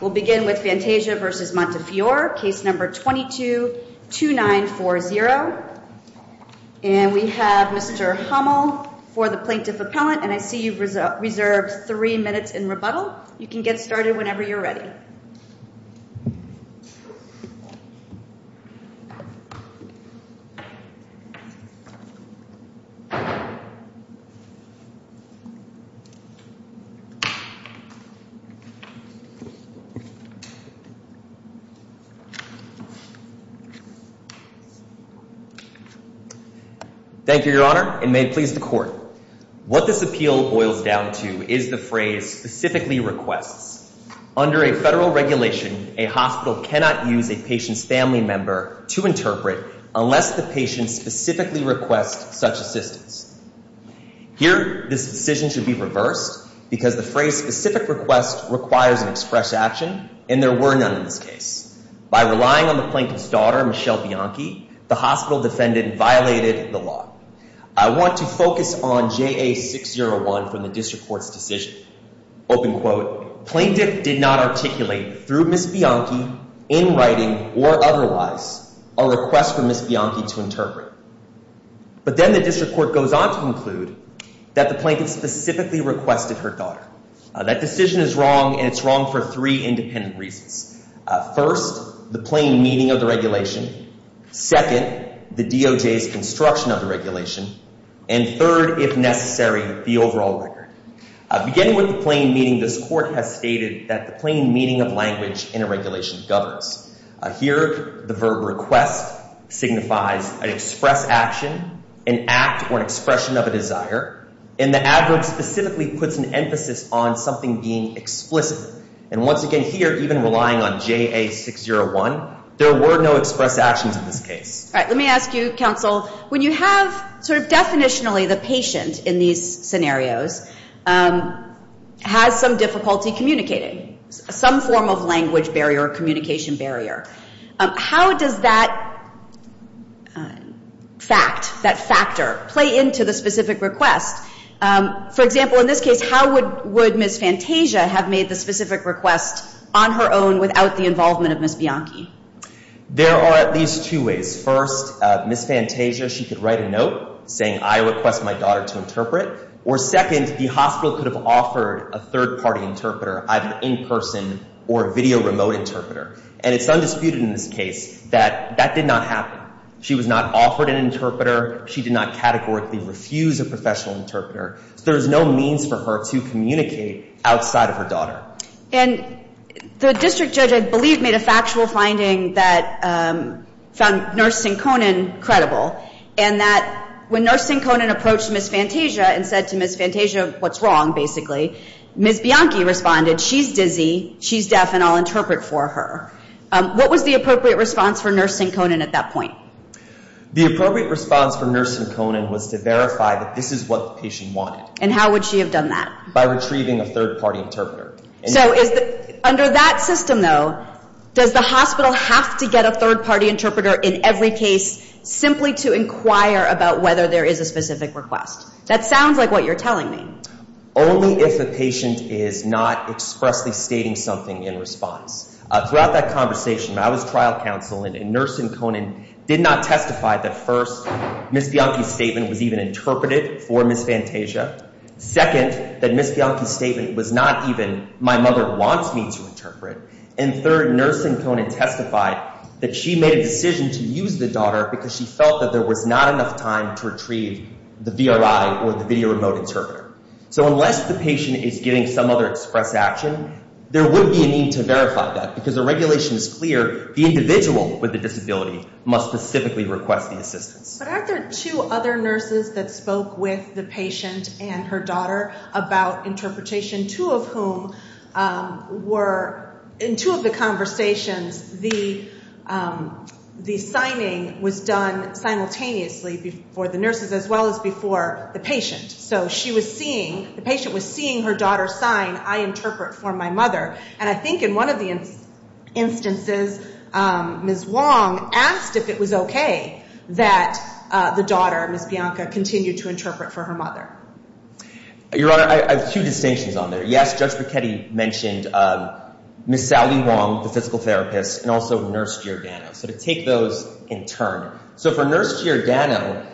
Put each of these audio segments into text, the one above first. We'll begin with Fantasia v. Montefiore, case number 222940. And we have Mr. Hummel for the Plaintiff Appellant, and I see you've reserved three minutes in rebuttal. You can get started whenever you're ready. Thank you, Your Honor, and may it please the Court. What this appeal boils down to is the phrase, specifically requests. Under a federal regulation, a hospital cannot use a patient's family member to interpret unless the patient specifically requests such assistance. Here, this decision should be reversed because the phrase, specific request, requires an express action, and there were none in this case. By relying on the Plaintiff's daughter, Michelle Bianchi, the hospital defendant violated the law. I want to focus on JA601 from the District Court's decision. Open quote, Plaintiff did not articulate through Ms. Bianchi, in writing or otherwise, a request for Ms. Bianchi to interpret. But then the District Court goes on to conclude that the Plaintiff specifically requested her daughter. That decision is wrong, and it's wrong for three independent reasons. First, the plain meaning of the regulation. Second, the DOJ's construction of the regulation. And third, if necessary, the overall record. Beginning with the plain meaning, this Court has stated that the plain meaning of language in a regulation governs. Here, the verb request signifies an express action, an act, or an expression of a desire. And the adverb specifically puts an emphasis on something being explicit. And once again here, even relying on JA601, there were no express actions in this case. All right, let me ask you, counsel, when you have sort of definitionally the patient in these scenarios, has some difficulty communicating, some form of language barrier or communication barrier, how does that fact, that factor, play into the specific request? For example, in this case, how would Ms. Fantasia have made the specific request on her own without the involvement of Ms. Bianchi? There are at least two ways. First, Ms. Fantasia, she could write a note saying, I request my daughter to interpret. Or second, the hospital could have offered a third-party interpreter, either in person or a video remote interpreter. And it's undisputed in this case that that did not happen. She was not offered an interpreter. She did not categorically refuse a professional interpreter. And the district judge, I believe, made a factual finding that found Nurse Sinconin credible, and that when Nurse Sinconin approached Ms. Fantasia and said to Ms. Fantasia what's wrong, basically, Ms. Bianchi responded, she's dizzy, she's deaf, and I'll interpret for her. What was the appropriate response for Nurse Sinconin at that point? The appropriate response for Nurse Sinconin was to verify that this is what the patient wanted. And how would she have done that? By retrieving a third-party interpreter. So under that system, though, does the hospital have to get a third-party interpreter in every case simply to inquire about whether there is a specific request? That sounds like what you're telling me. Only if the patient is not expressly stating something in response. Throughout that conversation, I was trial counsel, and Nurse Sinconin did not testify that, first, Ms. Bianchi's statement was even interpreted for Ms. Fantasia. Second, that Ms. Bianchi's statement was not even, my mother wants me to interpret. And third, Nurse Sinconin testified that she made a decision to use the daughter because she felt that there was not enough time to retrieve the VRI or the video remote interpreter. So unless the patient is giving some other express action, there would be a need to verify that because the regulation is clear, the individual with the disability must specifically request the assistance. But aren't there two other nurses that spoke with the patient and her daughter about interpretation, two of whom were, in two of the conversations, the signing was done simultaneously for the nurses as well as before the patient. So she was seeing, the patient was seeing her daughter sign, I interpret for my mother. And I think in one of the instances, Ms. Wong asked if it was okay that the daughter, Ms. Bianchi, continued to interpret for her mother. Your Honor, I have two distinctions on there. Yes, Judge Bichetti mentioned Ms. Sally Wong, the physical therapist, and also Nurse Giordano. So to take those in turn. So for Nurse Giordano,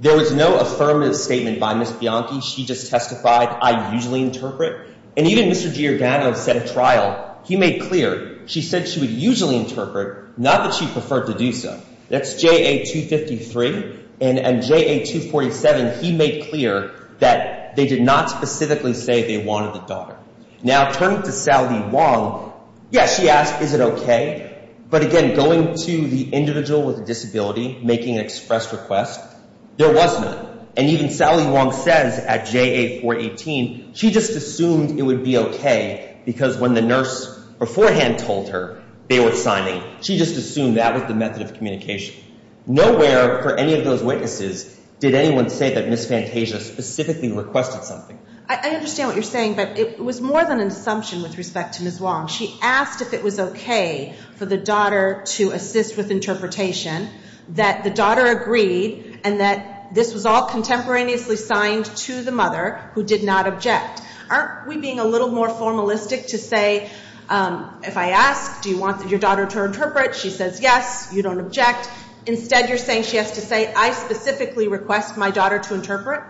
there was no affirmative statement by Ms. Bianchi. She just testified, I usually interpret. And even Mr. Giordano said at trial, he made clear, she said she would usually interpret, not that she preferred to do so. That's JA 253. And JA 247, he made clear that they did not specifically say they wanted the daughter. Now, turning to Sally Wong, yes, she asked, is it okay? But again, going to the individual with the disability, making an express request, there was none. And even Sally Wong says at JA 418, she just assumed it would be okay because when the nurse beforehand told her they were signing, she just assumed that was the method of communication. Nowhere for any of those witnesses did anyone say that Ms. Fantasia specifically requested something. I understand what you're saying, but it was more than an assumption with respect to Ms. Wong. She asked if it was okay for the daughter to assist with interpretation, that the daughter agreed, and that this was all contemporaneously signed to the mother who did not object. Aren't we being a little more formalistic to say, if I ask, do you want your daughter to interpret, she says yes, you don't object. Instead, you're saying she has to say, I specifically request my daughter to interpret?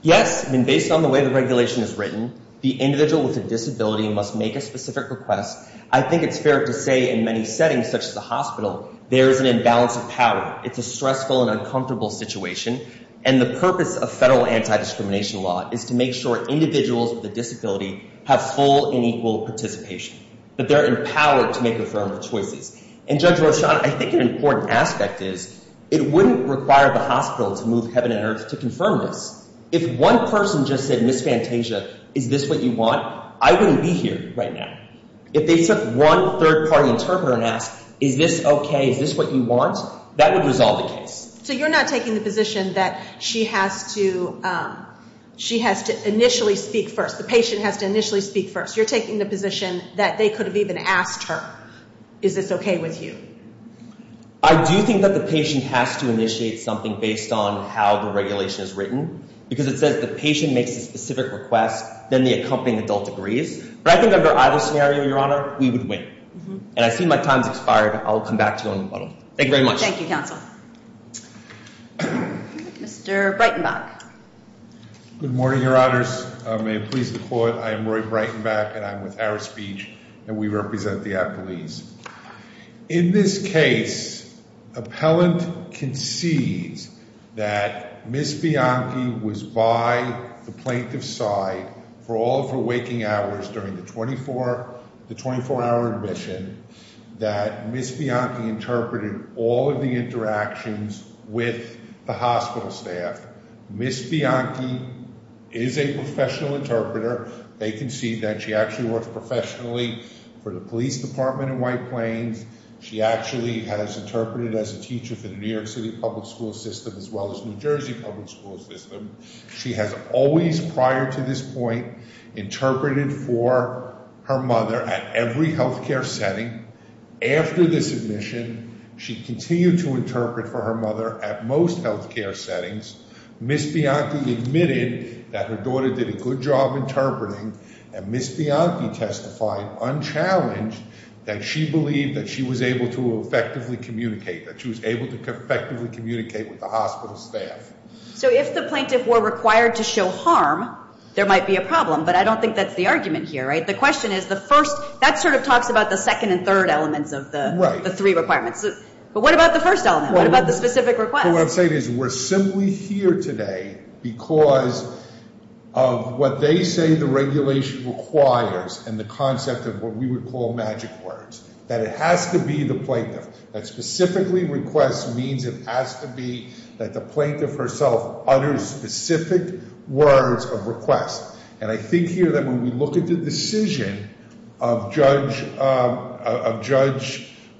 Yes, and based on the way the regulation is written, the individual with a disability must make a specific request. I think it's fair to say in many settings, such as the hospital, there is an imbalance of power. It's a stressful and uncomfortable situation. And the purpose of federal anti-discrimination law is to make sure individuals with a disability have full and equal participation, that they're empowered to make affirmative choices. And Judge Roshon, I think an important aspect is, it wouldn't require the hospital to move heaven and earth to confirm this. If one person just said, Ms. Fantasia, is this what you want, I wouldn't be here right now. If they took one third-party interpreter and asked, is this okay, is this what you want, that would resolve the case. So you're not taking the position that she has to initially speak first, the patient has to initially speak first. You're taking the position that they could have even asked her, is this okay with you? I do think that the patient has to initiate something based on how the regulation is written, because it says the patient makes a specific request, then the accompanying adult agrees. But I think under either scenario, Your Honor, we would win. And I see my time has expired, and I'll come back to you on the model. Thank you very much. Thank you, Counsel. Mr. Breitenbach. Good morning, Your Honors. May it please the Court, I am Roy Breitenbach, and I'm with Harris Beach, and we represent the Appleese. In this case, appellant concedes that Ms. Bianchi was by the plaintiff's side for all of her waking hours during the 24-hour admission, that Ms. Bianchi interpreted all of the interactions with the hospital staff. Ms. Bianchi is a professional interpreter. They concede that she actually works professionally for the police department in White Plains. She actually has interpreted as a teacher for the New York City public school system, as well as New Jersey public school system. She has always, prior to this point, interpreted for her mother at every health care setting. After this admission, she continued to interpret for her mother at most health care settings. Ms. Bianchi admitted that her daughter did a good job interpreting, and Ms. Bianchi testified unchallenged that she believed that she was able to effectively communicate, that she was able to effectively communicate with the hospital staff. So if the plaintiff were required to show harm, there might be a problem, but I don't think that's the argument here, right? The question is the first – that sort of talks about the second and third elements of the three requirements. But what about the first element? What about the specific request? What I'm saying is we're simply here today because of what they say the regulation requires and the concept of what we would call magic words, that it has to be the plaintiff. That specifically request means it has to be that the plaintiff herself utters specific words of request. And I think here that when we look at the decision of Judge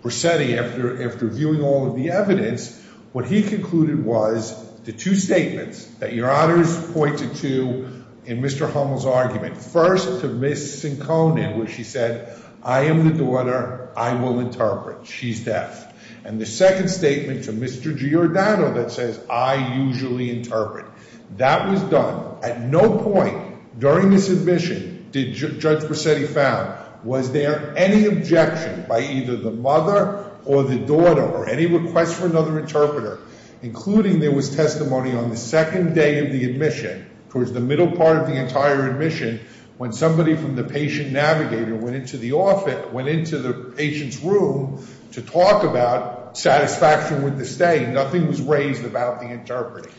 Brissetti after viewing all of the evidence, what he concluded was the two statements that your honors pointed to in Mr. Hummel's argument. First, to Ms. Sincone where she said, I am the daughter, I will interpret, she's deaf. And the second statement to Mr. Giordano that says, I usually interpret. That was done. At no point during this admission did Judge Brissetti found, was there any objection by either the mother or the daughter or any request for another interpreter, including there was testimony on the second day of the admission, towards the middle part of the entire admission, when somebody from the patient navigator went into the patient's room to talk about satisfaction with the stay. Nothing was raised about the interpreting.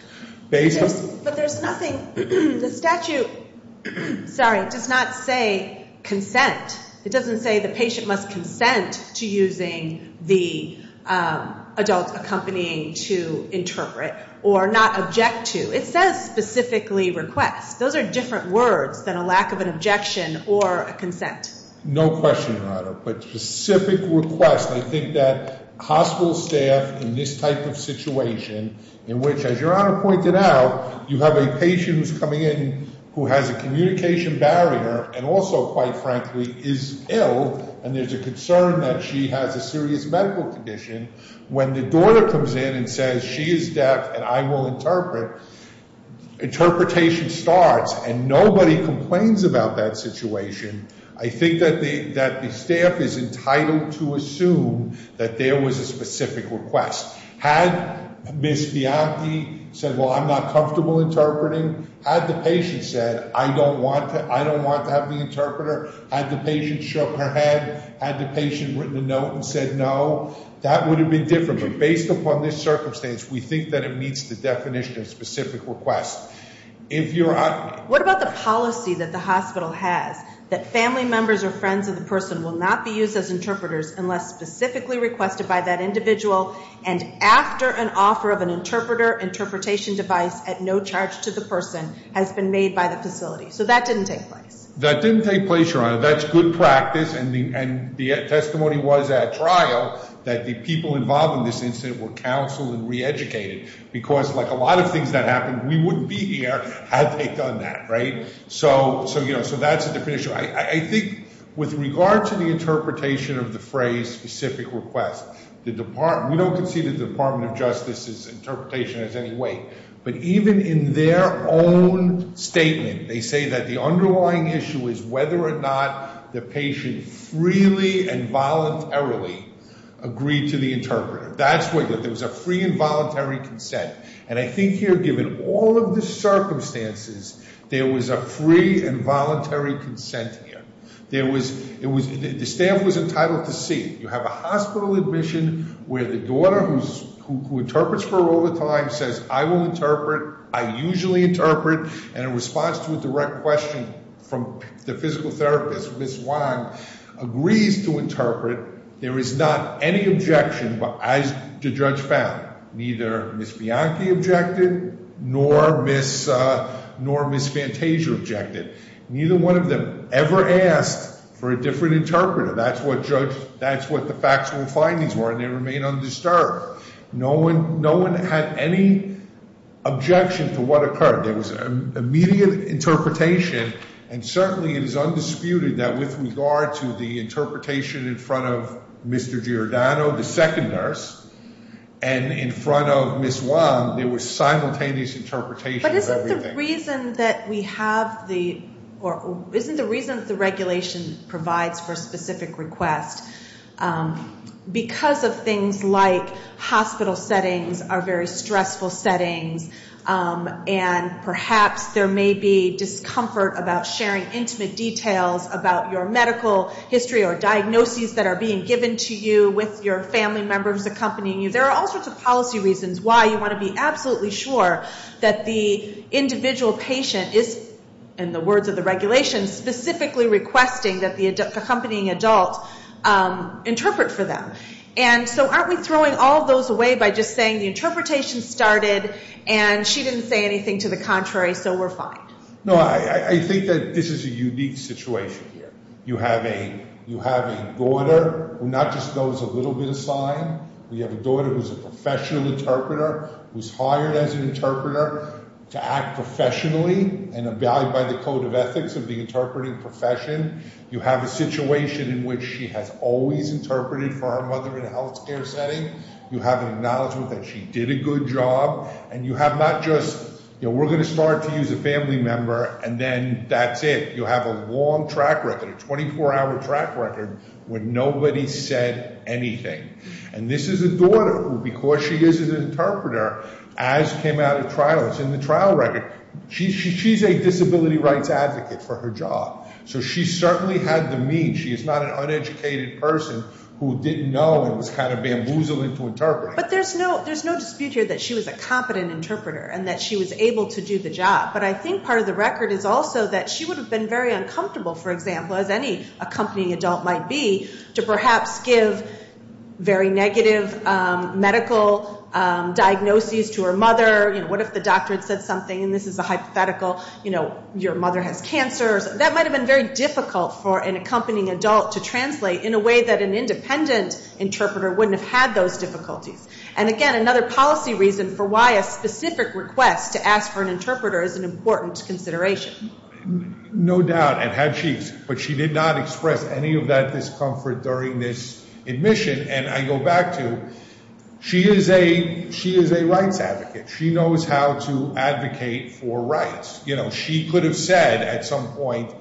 But there's nothing, the statute, sorry, does not say consent. It doesn't say the patient must consent to using the adult accompanying to interpret or not object to. It says specifically request. Those are different words than a lack of an objection or a consent. No question, Your Honor. But specific request, I think that hospital staff in this type of situation, in which as Your Honor pointed out, you have a patient who's coming in who has a communication barrier and also quite frankly is ill and there's a concern that she has a serious medical condition. When the daughter comes in and says she is deaf and I will interpret, interpretation starts and nobody complains about that situation. I think that the staff is entitled to assume that there was a specific request. Had Ms. Bianchi said, well, I'm not comfortable interpreting. Had the patient said, I don't want to have the interpreter. Had the patient shook her head. Had the patient written a note and said no. That would have been different. But based upon this circumstance, we think that it meets the definition of specific request. What about the policy that the hospital has that family members or friends of the person will not be used as interpreters unless specifically requested by that individual and after an offer of an interpreter, interpretation device at no charge to the person has been made by the facility. So that didn't take place. That didn't take place, Your Honor. That's good practice and the testimony was at trial that the people involved in this incident were counseled and reeducated because like a lot of things that happened, we wouldn't be here had they done that. So that's a different issue. I think with regard to the interpretation of the phrase specific request, we don't concede that the Department of Justice's interpretation has any weight. But even in their own statement, they say that the underlying issue is whether or not the patient freely and voluntarily agreed to the interpreter. That's what, there was a free and voluntary consent. And I think here given all of the circumstances, there was a free and voluntary consent here. The staff was entitled to see. You have a hospital admission where the daughter who interprets for her all the time says, I will interpret, I usually interpret, and in response to a direct question from the physical therapist, Ms. Wang, agrees to interpret. There is not any objection as the judge found. Neither Ms. Bianchi objected, nor Ms. Fantasia objected. Neither one of them ever asked for a different interpreter. That's what the factual findings were, and they remain undisturbed. No one had any objection to what occurred. There was an immediate interpretation, and certainly it is undisputed that with regard to the interpretation in front of Mr. Giordano, the second nurse, and in front of Ms. Wang, there was simultaneous interpretation of everything. But isn't the reason that we have the, or isn't the reason that the regulation provides for a specific request, because of things like hospital settings are very stressful settings, and perhaps there may be discomfort about sharing intimate details about your medical history or diagnoses that are being given to you with your family members accompanying you. There are all sorts of policy reasons why you want to be absolutely sure that the individual patient is, in the words of the regulation, specifically requesting that the accompanying adult interpret for them. And so aren't we throwing all those away by just saying the interpretation started, and she didn't say anything to the contrary, so we're fine. No, I think that this is a unique situation. You have a daughter who not just knows a little bit of sign. You have a daughter who's a professional interpreter, who's hired as an interpreter to act professionally and abided by the code of ethics of the interpreting profession. You have a situation in which she has always interpreted for her mother in a health care setting. You have an acknowledgment that she did a good job. And you have not just, you know, we're going to start to use a family member, and then that's it. You have a long track record, a 24-hour track record, where nobody said anything. And this is a daughter who, because she is an interpreter, as came out of trial, it's in the trial record, she's a disability rights advocate for her job. So she certainly had the means. She is not an uneducated person who didn't know and was kind of bamboozled into interpreting. But there's no dispute here that she was a competent interpreter and that she was able to do the job. But I think part of the record is also that she would have been very uncomfortable, for example, as any accompanying adult might be, to perhaps give very negative medical diagnoses to her mother. You know, what if the doctor had said something, and this is a hypothetical, you know, your mother has cancer. That might have been very difficult for an accompanying adult to translate in a way that an independent interpreter wouldn't have had those difficulties. And, again, another policy reason for why a specific request to ask for an interpreter is an important consideration. No doubt, and had she, but she did not express any of that discomfort during this admission. And I go back to, she is a rights advocate. She knows how to advocate for rights. You know, she could have said at some point,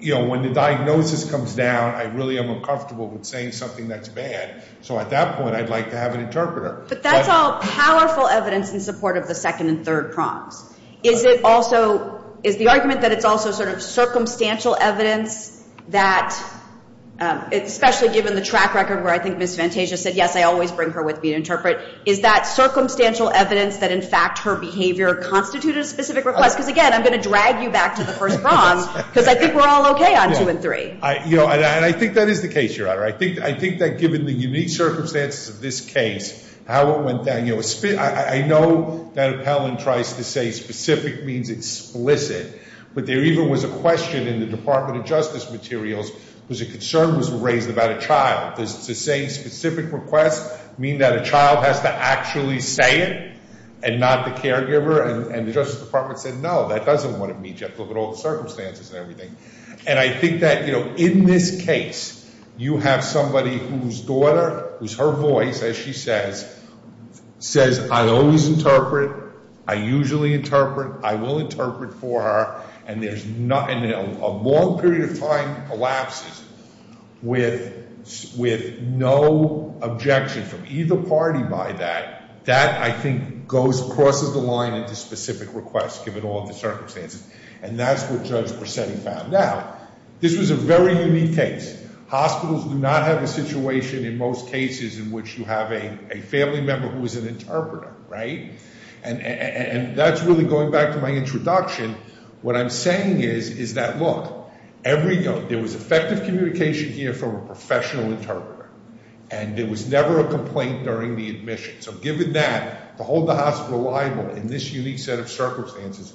you know, when the diagnosis comes down, I really am uncomfortable with saying something that's bad. So at that point, I'd like to have an interpreter. But that's all powerful evidence in support of the second and third prongs. Is it also, is the argument that it's also sort of circumstantial evidence that, especially given the track record where I think Ms. Fantasia said, yes, I always bring her with me to interpret, is that circumstantial evidence that, in fact, her behavior constituted a specific request? Because, again, I'm going to drag you back to the first prong, because I think we're all okay on two and three. I think that given the unique circumstances of this case, how it went down, you know, I know that Appellant tries to say specific means explicit. But there even was a question in the Department of Justice materials, was a concern was raised about a child. Does the same specific request mean that a child has to actually say it and not the caregiver? And the Justice Department said, no, that doesn't want to meet all the circumstances and everything. And I think that, you know, in this case, you have somebody whose daughter, whose her voice, as she says, says, I always interpret. I usually interpret. I will interpret for her. And there's not, and a long period of time collapses with no objection from either party by that. That, I think, goes, crosses the line into specific requests, given all the circumstances. And that's what Judge Persetti found out. This was a very unique case. Hospitals do not have a situation in most cases in which you have a family member who is an interpreter, right? And that's really going back to my introduction. What I'm saying is, is that, look, every, there was effective communication here from a professional interpreter. And there was never a complaint during the admission. So given that, to hold the hospital liable in this unique set of circumstances,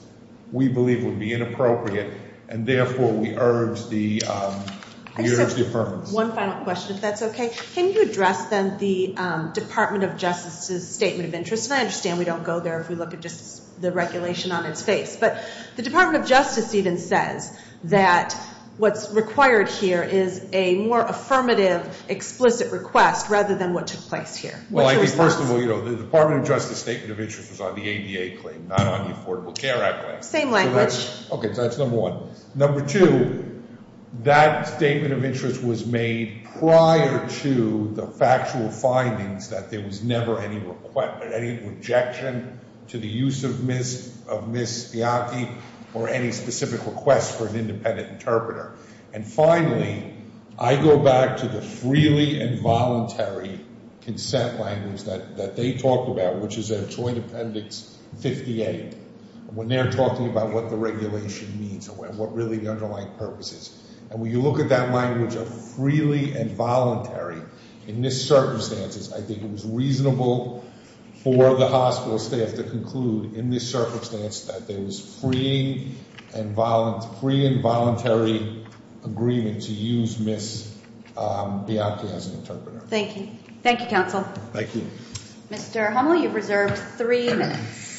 we believe would be inappropriate. And, therefore, we urge the, we urge the affirmative. One final question, if that's okay. Can you address, then, the Department of Justice's statement of interest? And I understand we don't go there if we look at just the regulation on its face. But the Department of Justice even says that what's required here is a more affirmative, explicit request rather than what took place here. Well, I think, first of all, you know, the Department of Justice statement of interest was on the ADA claim, not on the Affordable Care Act claim. Same language. Okay. So that's number one. Number two, that statement of interest was made prior to the factual findings that there was never any rejection to the use of Ms. Spiatti or any specific request for an independent interpreter. And, finally, I go back to the freely and voluntary consent language that they talked about, which is at Joint Appendix 58. When they're talking about what the regulation means and what really the underlying purpose is. And when you look at that language of freely and voluntary, in this circumstances, I think it was reasonable for the hospital staff to conclude, in this circumstance, that there was free and voluntary agreement to use Ms. Spiatti as an interpreter. Thank you. Thank you, counsel. Thank you. Mr. Hummel, you have reserved three minutes.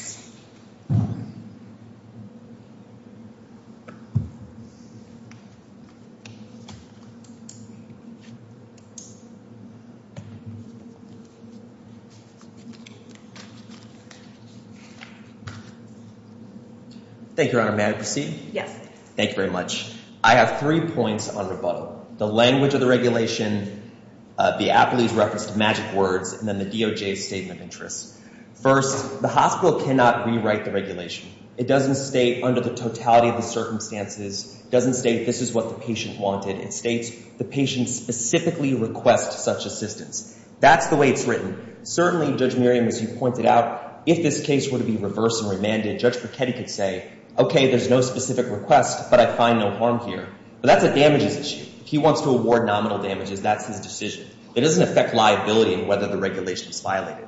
Thank you, Your Honor. May I proceed? Yes. Thank you very much. I have three points on rebuttal. The language of the regulation, the appellee's reference to magic words, and then the DOJ's statement of interest. First, the hospital cannot rewrite the regulation. It doesn't state, under the totality of the circumstances, it doesn't state this is what the patient wanted. It states the patient specifically requests such assistance. That's the way it's written. Certainly, Judge Miriam, as you pointed out, if this case were to be reversed and remanded, Judge Brachetti could say, okay, there's no specific request, but I find no harm here. But that's a damages issue. If he wants to award nominal damages, that's his decision. It doesn't affect liability in whether the regulation is violated.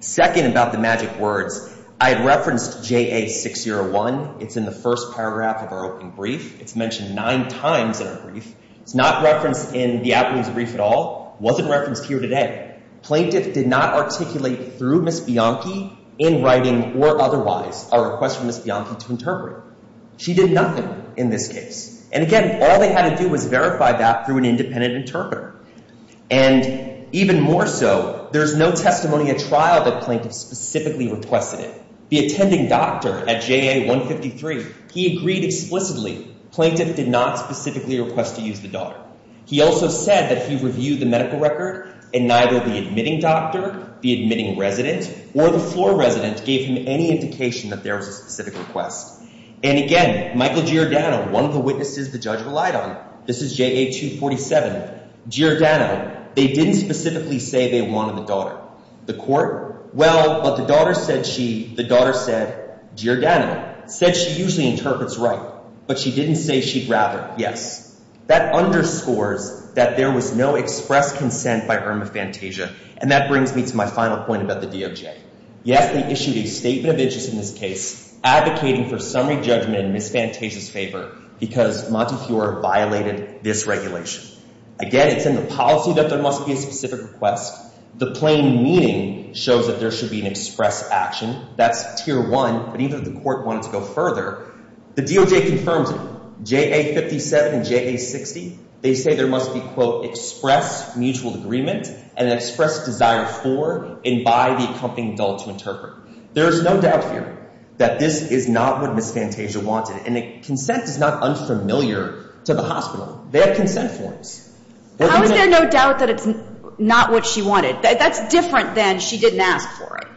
Second, about the magic words, I had referenced JA601. It's in the first paragraph of our open brief. It's mentioned nine times in our brief. It's not referenced in the appellee's brief at all. It wasn't referenced here today. Plaintiff did not articulate through Ms. Bianchi in writing or otherwise a request from Ms. Bianchi to interpret. She did nothing in this case. And again, all they had to do was verify that through an independent interpreter. And even more so, there's no testimony at trial that plaintiff specifically requested it. The attending doctor at JA153, he agreed explicitly plaintiff did not specifically request to use the daughter. He also said that he reviewed the medical record and neither the admitting doctor, the admitting resident, or the floor resident gave him any indication that there was a specific request. And again, Michael Giordano, one of the witnesses the judge relied on, this is JA247. Giordano, they didn't specifically say they wanted the daughter. The court, well, but the daughter said she, the daughter said, Giordano, said she usually interprets right. But she didn't say she'd rather, yes. That underscores that there was no express consent by Irma Fantasia. And that brings me to my final point about the DOJ. Yes, they issued a statement of interest in this case advocating for summary judgment in Ms. Fantasia's favor because Montefiore violated this regulation. Again, it's in the policy that there must be a specific request. The plain meaning shows that there should be an express action. That's tier one. But even if the court wanted to go further, the DOJ confirms it. JA57 and JA60, they say there must be, quote, express mutual agreement and express desire for and by the accompanying adult to interpret. There is no doubt here that this is not what Ms. Fantasia wanted. And consent is not unfamiliar to the hospital. They have consent forms. How is there no doubt that it's not what she wanted? That's different than she didn't ask for it.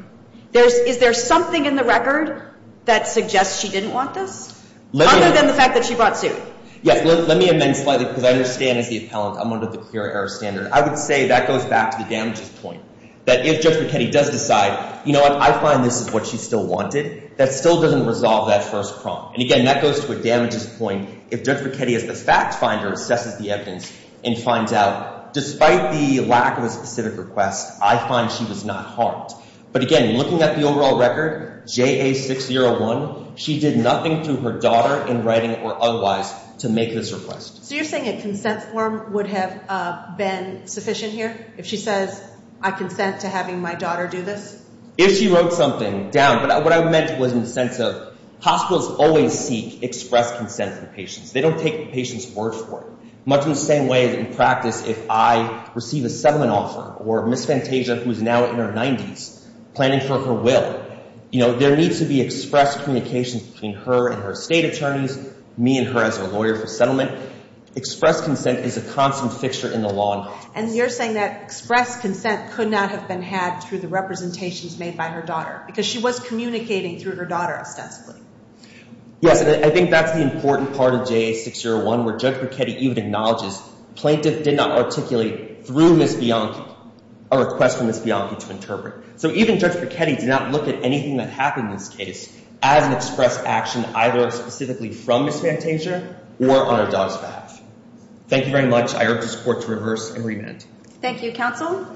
Is there something in the record that suggests she didn't want this? Other than the fact that she brought suit. Yes, let me amend slightly because I understand as the appellant I'm under the clear error standard. I would say that goes back to the damages point. That if Judge Brachetti does decide, you know what, I find this is what she still wanted, that still doesn't resolve that first problem. And, again, that goes to a damages point if Judge Brachetti as the fact finder assesses the evidence and finds out, despite the lack of a specific request, I find she was not harmed. But, again, looking at the overall record, JA601, she did nothing through her daughter in writing or otherwise to make this request. So you're saying a consent form would have been sufficient here if she says I consent to having my daughter do this? If she wrote something down. But what I meant was in the sense of hospitals always seek express consent from patients. They don't take the patient's word for it. Much in the same way in practice if I receive a settlement offer or Ms. Fantasia, who is now in her 90s, planning for her will, you know, there needs to be express communication between her and her state attorneys, me and her as her lawyer for settlement. Express consent is a constant fixture in the law. And you're saying that express consent could not have been had through the representations made by her daughter because she was communicating through her daughter ostensibly. Yes, and I think that's the important part of JA601 where Judge Brachetti even acknowledges plaintiff did not articulate through Ms. Bianchi, a request from Ms. Bianchi to interpret. So even Judge Brachetti did not look at anything that happened in this case as an express action either specifically from Ms. Fantasia or on her daughter's behalf. Thank you very much. I urge this court to reverse and remand. Thank you, counsel.